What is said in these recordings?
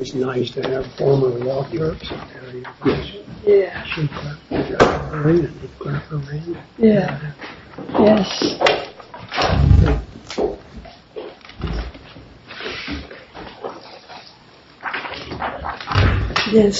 It's nice to have former wall clerks in the area of Washington. Yeah. She clapped her hand and he clapped her hand. Yeah. Yes. Okay,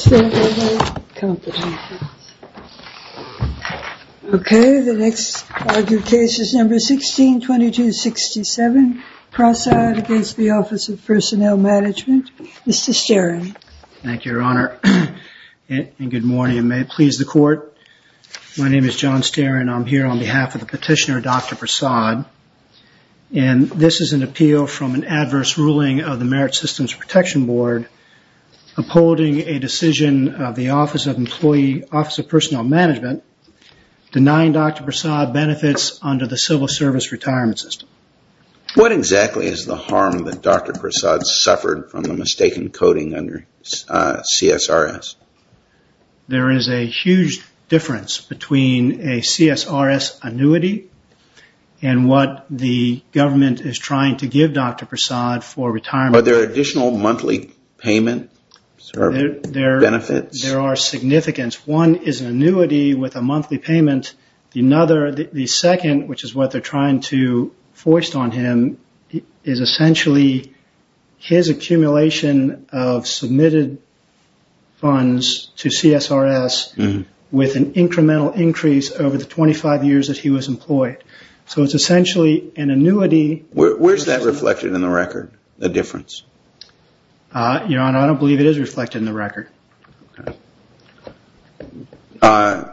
the next argued case is number 162267, Prasad v. Office of Personnel Management. Mr. Sterin. Thank you, Your Honor, and good morning. And may it please the court, my name is John Sterin. I'm here on behalf of the petitioner, Dr. Prasad. And this is an appeal from an adverse ruling of the Merit Systems Protection Board upholding a decision of the Office of Personnel Management denying Dr. Prasad benefits under the Civil Service Retirement System. What exactly is the harm that Dr. Prasad suffered from the mistaken coding under CSRS? There is a huge difference between a CSRS annuity and what the government is trying to give Dr. Prasad for retirement. Are there additional monthly payments or benefits? There are significance. One is an annuity with a monthly payment. The second, which is what they're trying to force on him, is essentially his accumulation of submitted funds to CSRS with an incremental increase over the 25 years that he was employed. So it's essentially an annuity. Where is that reflected in the record, the difference? Your Honor, I don't believe it is reflected in the record. Okay.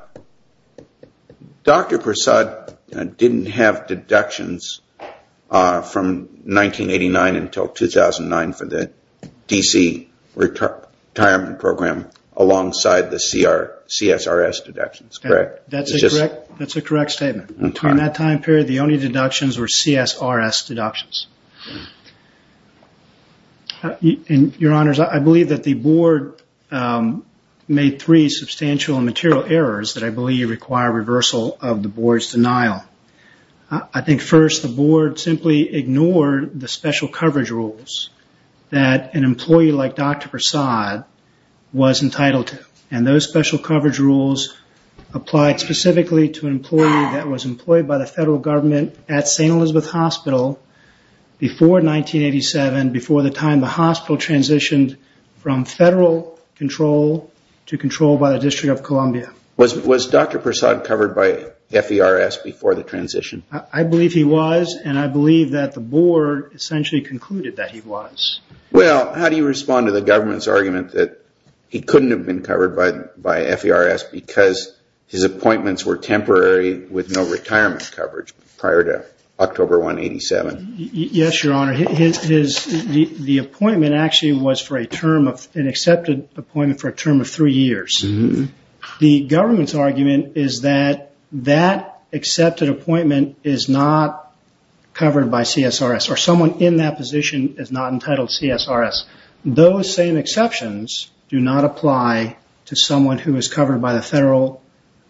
Dr. Prasad didn't have deductions from 1989 until 2009 for the DC retirement program alongside the CSRS deductions, correct? That's a correct statement. During that time period, the only deductions were CSRS deductions. Your Honors, I believe that the Board made three substantial and material errors that I believe require reversal of the Board's denial. I think, first, the Board simply ignored the special coverage rules that an employee like Dr. Prasad was entitled to. And those special coverage rules applied specifically to an employee that was employed by the federal government at St. Elizabeth Hospital before 1987, before the time the hospital transitioned from federal control to control by the District of Columbia. Was Dr. Prasad covered by FERS before the transition? I believe he was, and I believe that the Board essentially concluded that he was. Well, how do you respond to the government's argument that he couldn't have been covered by FERS because his appointments were temporary with no retirement coverage prior to October 1, 1987? Yes, Your Honor. The appointment actually was for an accepted appointment for a term of three years. The government's argument is that that accepted appointment is not covered by CSRS or someone in that position is not entitled to CSRS. Those same exceptions do not apply to someone who is covered by the federal,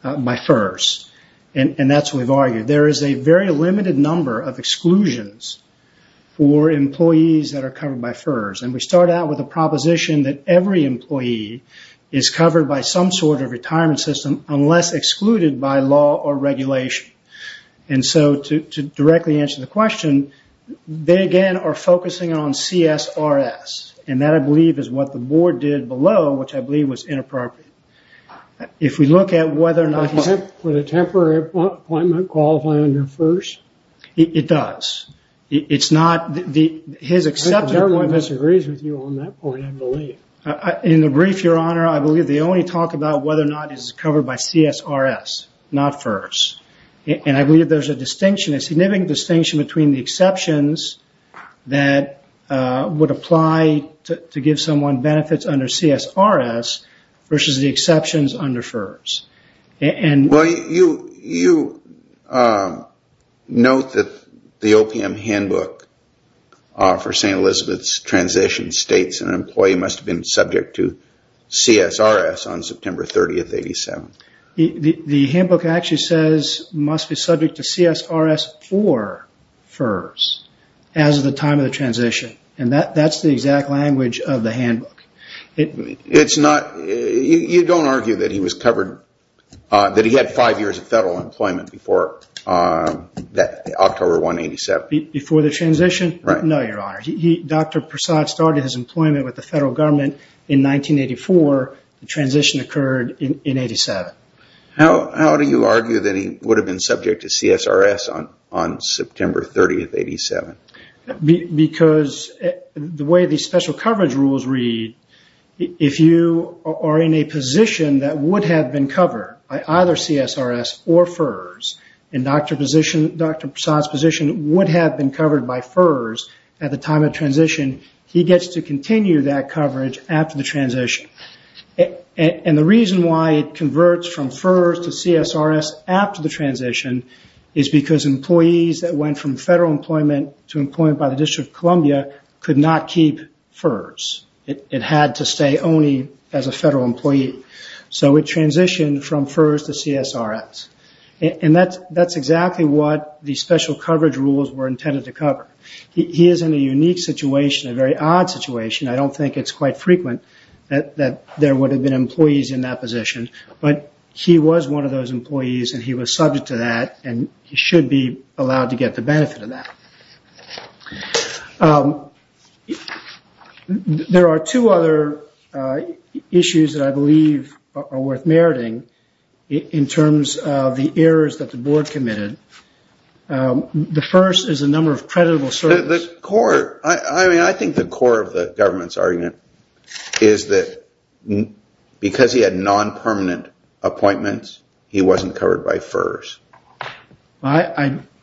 by FERS. And that's what we've argued. There is a very limited number of exclusions for employees that are covered by FERS. And we start out with a proposition that every employee is covered by some sort of retirement system unless excluded by law or regulation. And so, to directly answer the question, they, again, are focusing on CSRS. And that, I believe, is what the Board did below, which I believe was inappropriate. If we look at whether or not he's... Would a temporary appointment qualify under FERS? It does. His accepted appointment... I think the government disagrees with you on that point, I believe. In the brief, Your Honor, I believe they only talk about whether or not he's covered by CSRS, not FERS. And I believe there's a distinction, a significant distinction, between the exceptions that would apply to give someone benefits under CSRS versus the exceptions under FERS. Well, you note that the OPM handbook for St. Elizabeth's transition states that an employee must have been subject to CSRS on September 30, 1987. The handbook actually says, must be subject to CSRS for FERS as of the time of the transition. And that's the exact language of the handbook. It's not... You don't argue that he was covered... That he had five years of federal employment before October 1, 1987. Before the transition? No, Your Honor. Dr. Prasad started his employment with the federal government in 1984. The transition occurred in 87. How do you argue that he would have been subject to CSRS on September 30, 87? Because the way the special coverage rules read, if you are in a position that would have been covered by either CSRS or FERS, and Dr. Prasad's position would have been covered by FERS at the time of transition, he gets to continue that coverage after the transition. And the reason why it converts from FERS to CSRS after the transition is because employees that went from federal employment to employment by the District of Columbia could not keep FERS. It had to stay only as a federal employee. So it transitioned from FERS to CSRS. And that's exactly what the special coverage rules were intended to cover. He is in a unique situation, a very odd situation. I don't think it's quite frequent that there would have been employees in that position. But he was one of those employees, and he was subject to that, and he should be allowed to get the benefit of that. There are two other issues that I believe are worth meriting in terms of the errors that the board committed. The first is the number of creditable services. I think the core of the government's argument is that because he had non-permanent appointments, he wasn't covered by FERS.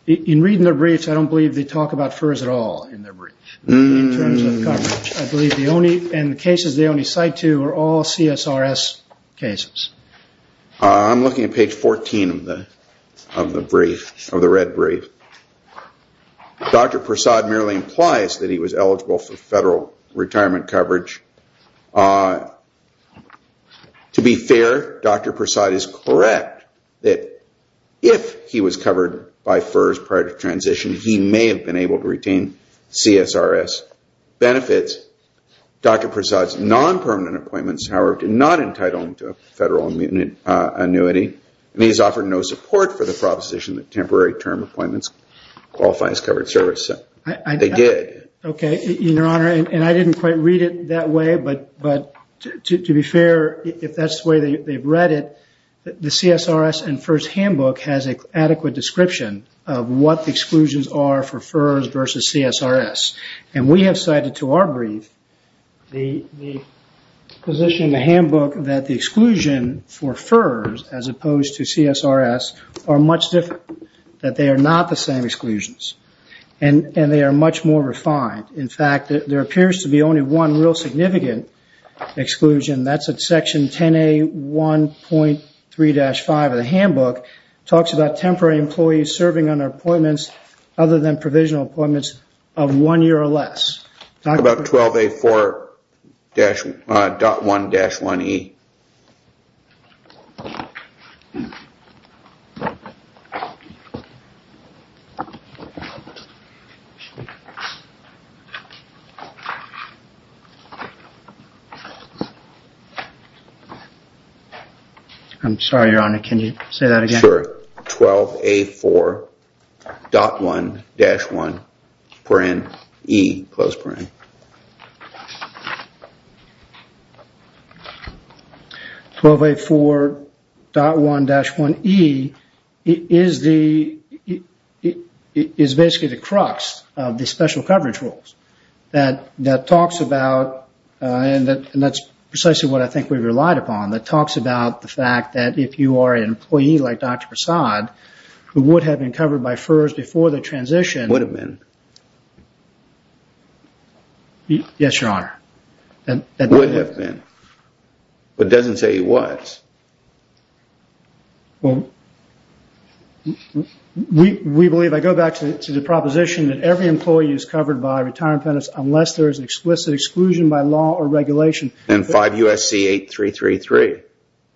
In reading the briefs, I don't believe they talk about FERS at all in their briefs in terms of coverage. I believe the cases they only cite to are all CSRS cases. I'm looking at page 14 of the red brief. Dr. Persaud merely implies that he was eligible for federal retirement coverage. To be fair, Dr. Persaud is correct that if he was covered by FERS prior to transition, he may have been able to retain CSRS benefits. Dr. Persaud's non-permanent appointments, however, did not entitle him to a federal annuity, and he has offered no support for the proposition that temporary term appointments qualify as covered service. They did. I didn't quite read it that way, but to be fair, if that's the way they've read it, the CSRS and FERS handbook has an adequate description of what the exclusions are for FERS versus CSRS. We have cited to our brief the position in the handbook that the exclusion for FERS as opposed to CSRS are much different, that they are not the same exclusions, and they are much more refined. In fact, there appears to be only one real significant exclusion. That's at section 10A1.3-5 of the handbook. It talks about temporary employees serving under appointments other than provisional appointments of one year or less. Talk about 12A4.1-1E. I'm sorry, Your Honor, can you say that again? Sure. 12A4.1-1E. 12A4.1-1E is basically the crux of the special coverage rules. That talks about, and that's precisely what I think we relied upon, that talks about the fact that if you are an employee like Dr. Prasad, who would have been covered by FERS before the transition. Would have been. Yes, Your Honor. Would have been. But it doesn't say he was. Well, we believe, I go back to the proposition that every employee is covered by retirement penalty unless there is an explicit exclusion by law or regulation. And 5 U.S.C. 8333,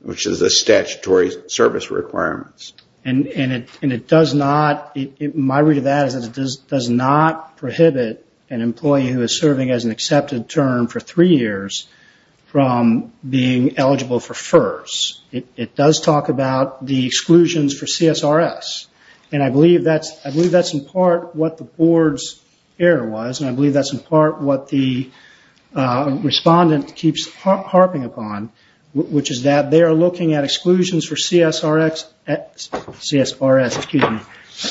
which is a statutory service requirement. And it does not, my read of that is that it does not prohibit an employee who is serving as an accepted term for three years from being eligible for FERS. It does talk about the exclusions for CSRS. And I believe that's in part what the board's error was, and I believe that's in part what the respondent keeps harping upon, which is that they are looking at exclusions for CSRS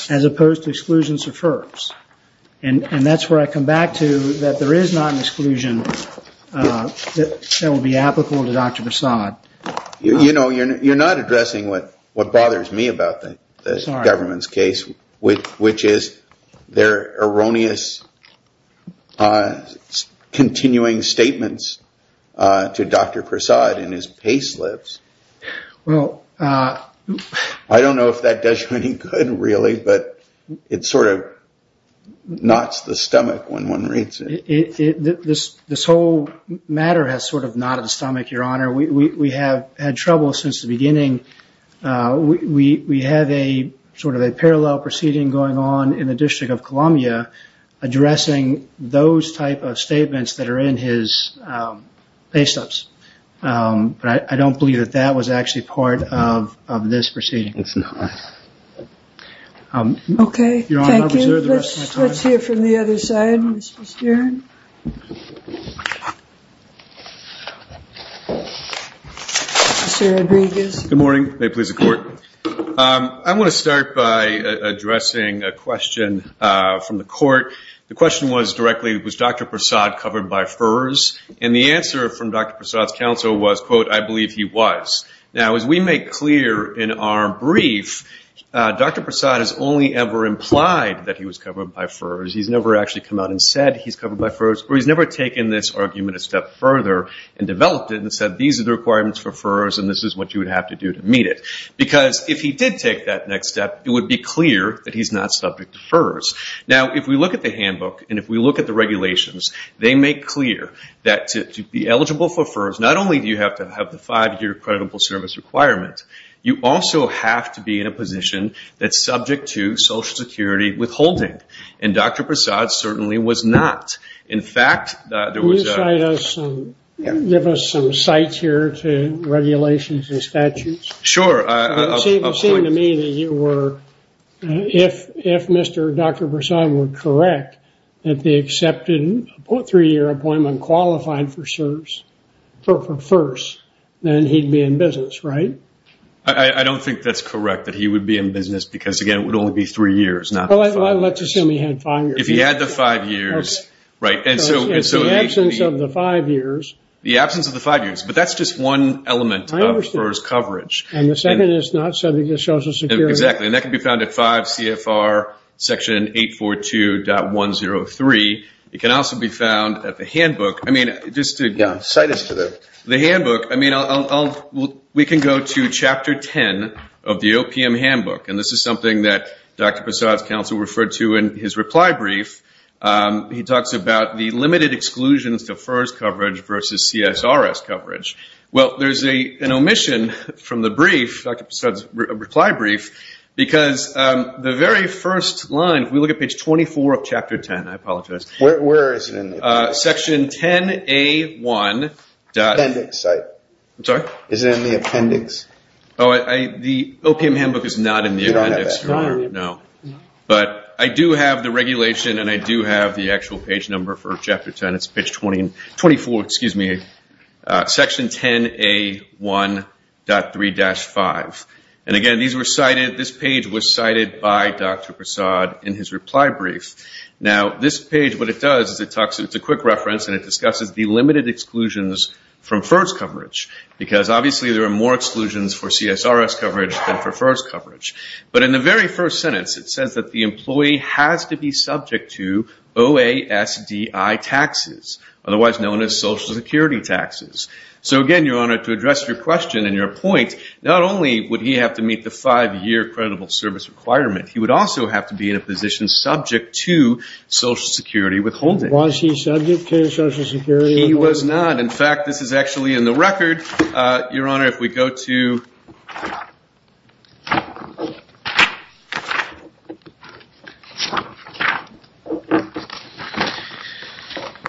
as opposed to exclusions for FERS. And that's where I come back to that there is not an exclusion that would be applicable to Dr. Prasad. You know, you're not addressing what bothers me about the government's case, which is their erroneous continuing statements to Dr. Prasad in his payslips. Well, I don't know if that does you any good, really, but it sort of knots the stomach when one reads it. This whole matter has sort of knotted the stomach, Your Honor. We have had trouble since the beginning. We have a sort of a parallel proceeding going on in the District of Columbia addressing those type of statements that are in his payslips. But I don't believe that that was actually part of this proceeding. It's not. Okay. Thank you. Let's hear from the other side, Mr. Stern. Good morning. May it please the Court. I want to start by addressing a question from the Court. The question was directly, was Dr. Prasad covered by FERS? And the answer from Dr. Prasad's counsel was, quote, I believe he was. Now, as we make clear in our brief, Dr. Prasad has only ever implied that he was covered by FERS. He's never actually come out and said he's covered by FERS, or he's never taken this argument a step further and developed it and said these are the requirements for FERS and this is what you would have to do to meet it. Because if he did take that next step, it would be clear that he's not subject to FERS. Now, if we look at the handbook and if we look at the regulations, they make clear that to be eligible for FERS, not only do you have to have the five-year credible service requirement, you also have to be in a position that's subject to Social Security withholding. And Dr. Prasad certainly was not. In fact, there was a – Can you give us some sight here to regulations and statutes? Sure. It seemed to me that you were – if Mr. Dr. Prasad were correct, that the accepted three-year appointment qualified for FERS, then he'd be in business, right? I don't think that's correct, that he would be in business, because, again, it would only be three years, not five years. Well, let's assume he had five years. If he had the five years, right, and so – The absence of the five years. The absence of the five years, but that's just one element of FERS coverage. And the second is not subject to Social Security. Exactly. And that can be found at 5 CFR Section 842.103. It can also be found at the handbook. I mean, just to – Yeah, cite us to the – The handbook. I mean, I'll – we can go to Chapter 10 of the OPM handbook, and this is something that Dr. Prasad's counsel referred to in his reply brief. He talks about the limited exclusions to FERS coverage versus CSRS coverage. Well, there's an omission from the brief, Dr. Prasad's reply brief, because the very first line, if we look at page 24 of Chapter 10, I apologize. Where is it in the appendix? Section 10A1. Appendix, sorry. I'm sorry? Is it in the appendix? Oh, the OPM handbook is not in the appendix. You don't have that? No. But I do have the regulation, and I do have the actual page number for Chapter 10. It's page 24, excuse me, Section 10A1.3-5. And again, these were cited – this page was cited by Dr. Prasad in his reply brief. Now, this page, what it does is it talks – it's a quick reference, and it discusses the limited exclusions from FERS coverage, because obviously there are more exclusions for CSRS coverage than for FERS coverage. But in the very first sentence, it says that the employee has to be subject to OASDI taxes, otherwise known as Social Security taxes. So again, Your Honor, to address your question and your point, not only would he have to meet the five-year credible service requirement, he would also have to be in a position subject to Social Security withholding. Was he subject to Social Security withholding? In fact, this is actually in the record. Your Honor, if we go to –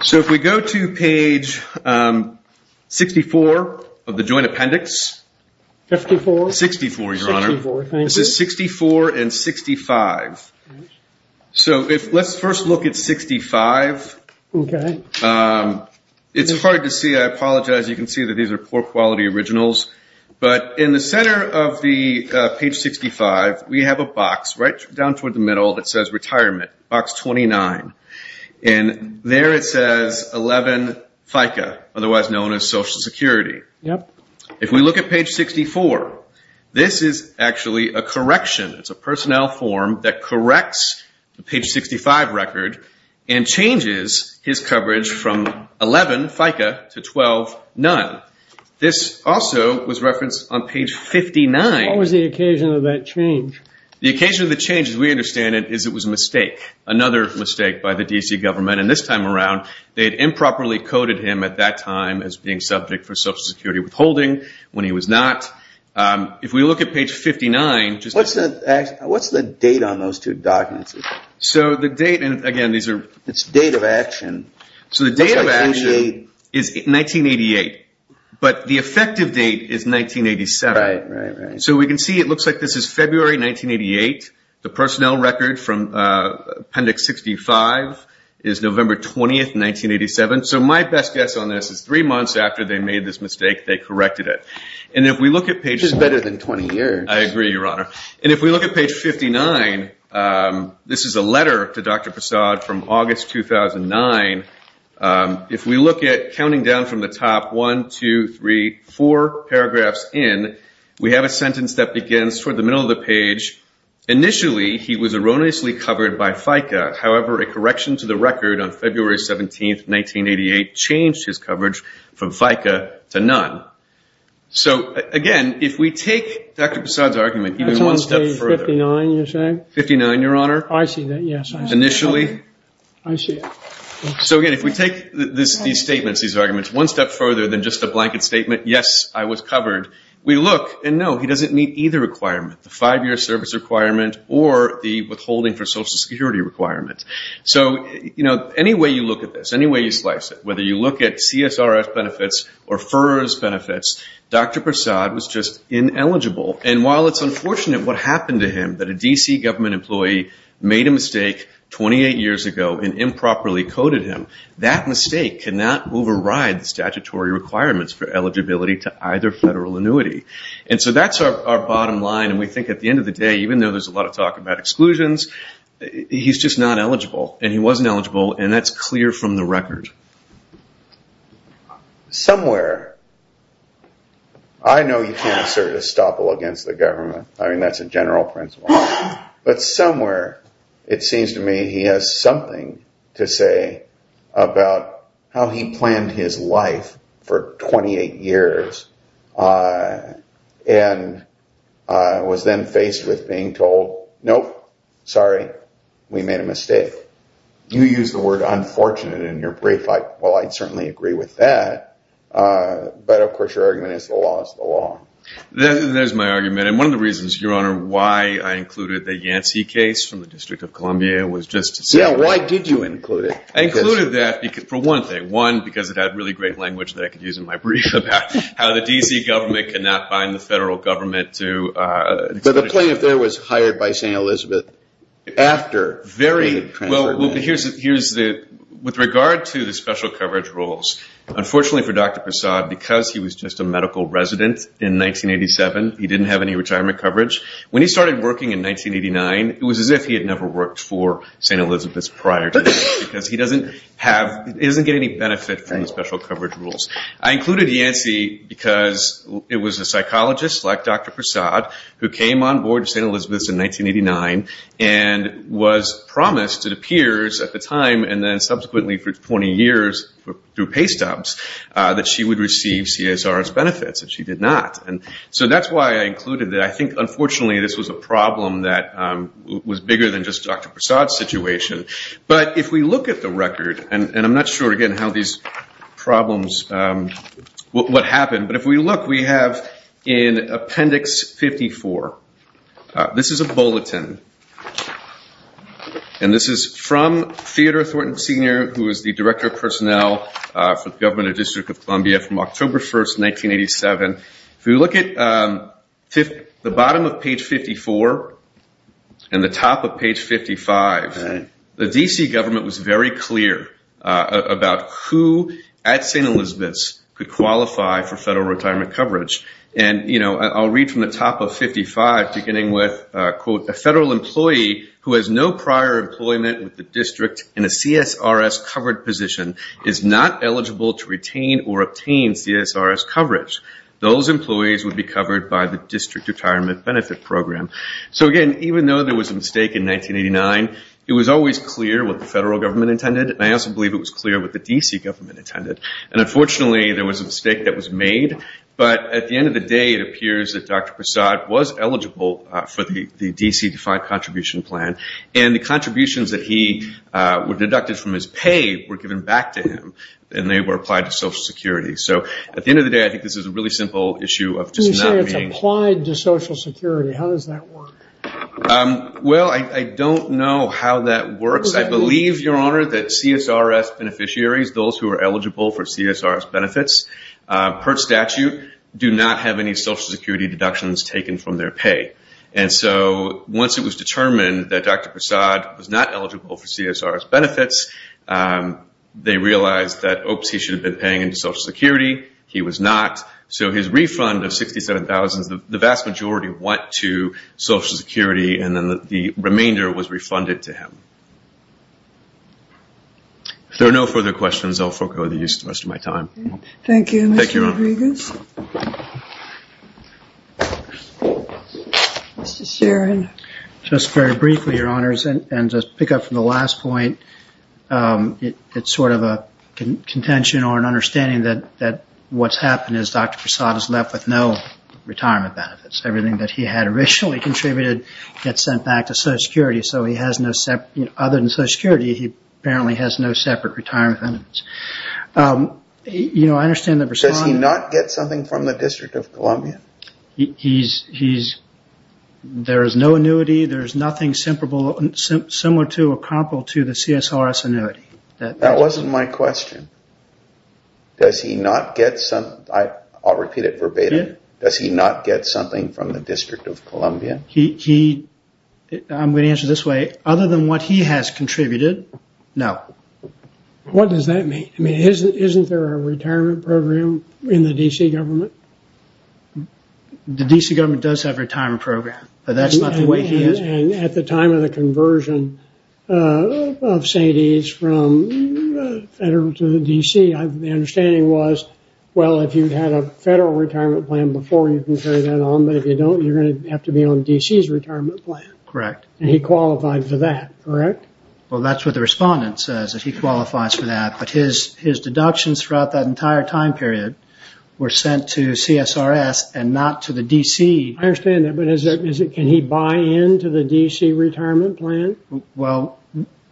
So if we go to page 64 of the Joint Appendix – 64? 64, Your Honor. 64, thank you. This is 64 and 65. So let's first look at 65. Okay. It's hard to see. I apologize. You can see that these are poor-quality originals. But in the center of the page 65, we have a box right down toward the middle that says retirement, box 29. And there it says 11 FICA, otherwise known as Social Security. If we look at page 64, this is actually a correction. It's a personnel form that corrects the page 65 record and changes his coverage from 11 FICA to 12 none. This also was referenced on page 59. What was the occasion of that change? The occasion of the change, as we understand it, is it was a mistake, another mistake by the D.C. government. And this time around, they had improperly coded him at that time as being subject for Social Security withholding. When he was not, if we look at page 59 – What's the date on those two documents? So the date, and again, these are – It's date of action. So the date of action is 1988. But the effective date is 1987. Right, right, right. So we can see it looks like this is February 1988. The personnel record from appendix 65 is November 20, 1987. So my best guess on this is three months after they made this mistake, they corrected it. And if we look at page – This is better than 20 years. I agree, Your Honor. And if we look at page 59, this is a letter to Dr. Passad from August 2009. If we look at counting down from the top, one, two, three, four paragraphs in, we have a sentence that begins toward the middle of the page. Initially, he was erroneously covered by FICA. However, a correction to the record on February 17, 1988, changed his coverage from FICA to none. So, again, if we take Dr. Passad's argument even one step further. That's on page 59, you're saying? 59, Your Honor. I see that, yes. Initially. I see it. So, again, if we take these statements, these arguments, one step further than just a blanket statement, yes, I was covered. We look, and no, he doesn't meet either requirement, the five-year service requirement or the withholding for Social Security requirement. So, you know, any way you look at this, any way you slice it, whether you look at CSRS benefits or FERS benefits, Dr. Passad was just ineligible. And while it's unfortunate what happened to him, that a D.C. government employee made a mistake 28 years ago and improperly coded him, that mistake cannot override the statutory requirements for eligibility to either federal annuity. And so that's our bottom line. And we think at the end of the day, even though there's a lot of talk about exclusions, he's just not eligible, and he wasn't eligible, and that's clear from the record. Somewhere, I know you can't assert estoppel against the government. I mean, that's a general principle. But somewhere it seems to me he has something to say about how he planned his life for 28 years and was then faced with being told, nope, sorry, we made a mistake. You used the word unfortunate in your brief. Well, I'd certainly agree with that. But, of course, your argument is the law is the law. There's my argument. And one of the reasons, Your Honor, why I included the Yancey case from the District of Columbia was just to say that. Yeah, why did you include it? I included that for one thing. One, because it had really great language that I could use in my brief about how the D.C. government could not bind the federal government to. But the plaintiff there was hired by St. Elizabeth after he had transferred. Well, with regard to the special coverage rules, unfortunately for Dr. Prasad, because he was just a medical resident in 1987, he didn't have any retirement coverage. When he started working in 1989, it was as if he had never worked for St. Elizabeth's prior to that because he doesn't get any benefit from the special coverage rules. I included Yancey because it was a psychologist like Dr. Prasad who came on board to St. Elizabeth's in 1989 and was promised to the peers at the time and then subsequently for 20 years through pay stubs that she would receive CSR's benefits, and she did not. And so that's why I included that. I think, unfortunately, this was a problem that was bigger than just Dr. Prasad's situation. But if we look at the record, and I'm not sure, again, what happened. But if we look, we have in Appendix 54, this is a bulletin. And this is from Theodore Thornton, Sr., who is the Director of Personnel for the Government of the District of Columbia from October 1st, 1987. If we look at the bottom of page 54 and the top of page 55, the D.C. government was very clear about who at St. Elizabeth's could qualify for federal retirement coverage. And, you know, I'll read from the top of 55 beginning with, quote, who has no prior employment with the district in a CSRS covered position is not eligible to retain or obtain CSRS coverage. Those employees would be covered by the District Retirement Benefit Program. So, again, even though there was a mistake in 1989, it was always clear what the federal government intended, and I also believe it was clear what the D.C. government intended. And, unfortunately, there was a mistake that was made. But at the end of the day, it appears that Dr. Prasad was eligible for the D.C. Defined Contribution Plan, and the contributions that he was deducted from his pay were given back to him, and they were applied to Social Security. So, at the end of the day, I think this is a really simple issue of just not being. You say it's applied to Social Security. How does that work? Well, I don't know how that works. I believe, Your Honor, that CSRS beneficiaries, those who are eligible for CSRS benefits per statute, do not have any Social Security deductions taken from their pay. And so once it was determined that Dr. Prasad was not eligible for CSRS benefits, they realized that, oops, he should have been paying into Social Security. He was not. So his refund of $67,000, the vast majority went to Social Security, and then the remainder was refunded to him. If there are no further questions, I'll forego the use of the rest of my time. Thank you, Mr. Rodriguez. Thank you, Your Honor. Mr. Sharon. Just very briefly, Your Honors, and to pick up from the last point, it's sort of a contention or an understanding that what's happened is Dr. Prasad is left with no retirement benefits. Everything that he had originally contributed gets sent back to Social Security, so other than Social Security, he apparently has no separate retirement benefits. I understand that Prasad… Does he not get something from the District of Columbia? He's… There is no annuity. There is nothing similar to or comparable to the CSRS annuity. That wasn't my question. Does he not get some… I'll repeat it verbatim. Does he not get something from the District of Columbia? He… I'm going to answer this way. Other than what he has contributed, no. What does that mean? I mean, isn't there a retirement program in the D.C. government? The D.C. government does have a retirement program, but that's not the way he is. And at the time of the conversion of St. Ed's from federal to the D.C., the understanding was, well, if you had a federal retirement plan before, you can carry that on, but if you don't, you're going to have to be on D.C.'s retirement plan. Correct. And he qualified for that, correct? Well, that's what the respondent says, that he qualifies for that, but his deductions throughout that entire time period were sent to CSRS and not to the D.C. I understand that, but can he buy into the D.C. retirement plan? Well,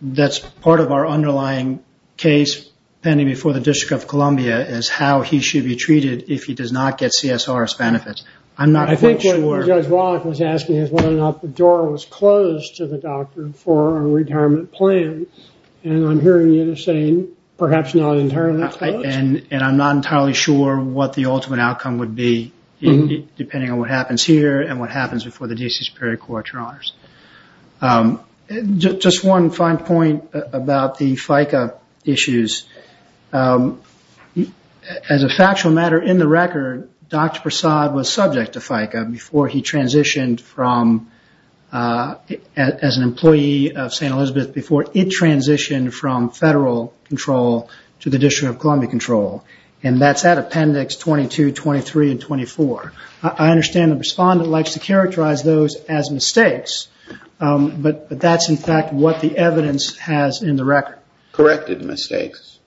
that's part of our underlying case pending before the District of Columbia is how he should be treated if he does not get CSRS benefits. I'm not quite sure… I think what Judge Wallach was asking is whether or not the door was closed to the doctor for a retirement plan, and I'm hearing you saying perhaps not entirely closed. And I'm not entirely sure what the ultimate outcome would be, depending on what happens here and what happens before the D.C. Superior Court, Your Honors. Just one fine point about the FICA issues. As a factual matter, in the record, Dr. Prasad was subject to FICA before he transitioned from as an employee of St. Elizabeth before it transitioned from federal control to the District of Columbia control, and that's at Appendix 22, 23, and 24. I understand the respondent likes to characterize those as mistakes, but that's in fact what the evidence has in the record. Corrected mistakes?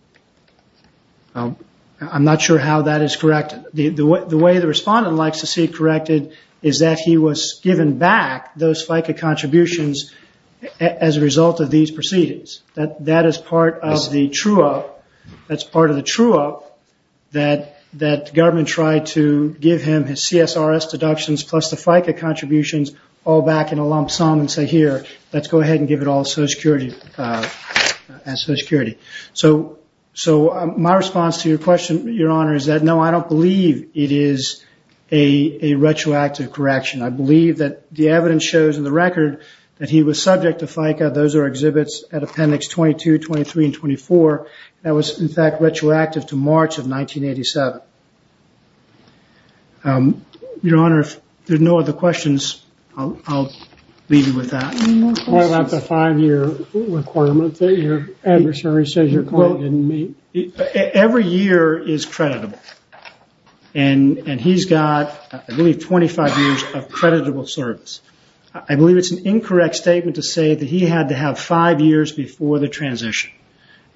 I'm not sure how that is corrected. The way the respondent likes to see it corrected is that he was given back those FICA contributions as a result of these proceedings. That is part of the true-up that the government tried to give him his CSRS deductions plus the FICA contributions all back in a lump sum and say, here, let's go ahead and give it all to Social Security. My response to your question, Your Honor, is that no, I don't believe it is a retroactive correction. I believe that the evidence shows in the record that he was subject to FICA. Those are exhibits at Appendix 22, 23, and 24. That was, in fact, retroactive to March of 1987. Your Honor, if there are no other questions, I'll leave you with that. What about the five-year requirement that your adversary says your client didn't meet? Every year is creditable. He's got, I believe, 25 years of creditable service. I believe it's an incorrect statement to say that he had to have five years before the transition.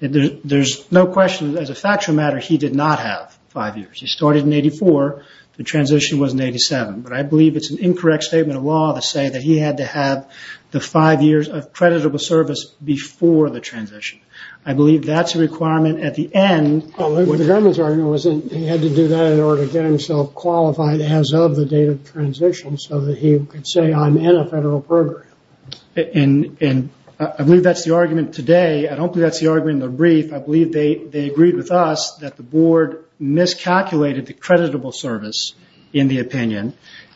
There's no question, as a factual matter, he did not have five years. He started in 1984. The transition was in 1987. I believe it's an incorrect statement of law to say that he had to have the five years of creditable service before the transition. I believe that's a requirement at the end. The government's argument was that he had to do that in order to get himself qualified as of the date of transition, so that he could say, I'm in a federal program. I believe that's the argument today. I don't believe that's the argument in the brief. I believe they agreed with us that the board miscalculated the creditable service in the opinion,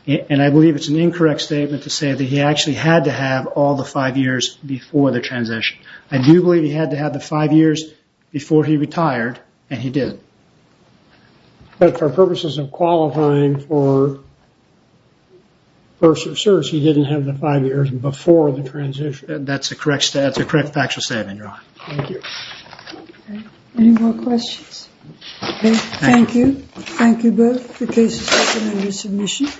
and I believe it's an incorrect statement to say that he actually had to have all the five years before the transition. I do believe he had to have the five years before he retired, and he did. But for purposes of qualifying for first reserves, he didn't have the five years before the transition. Thank you. Any more questions? Thank you. Thank you both for your cases and your submissions.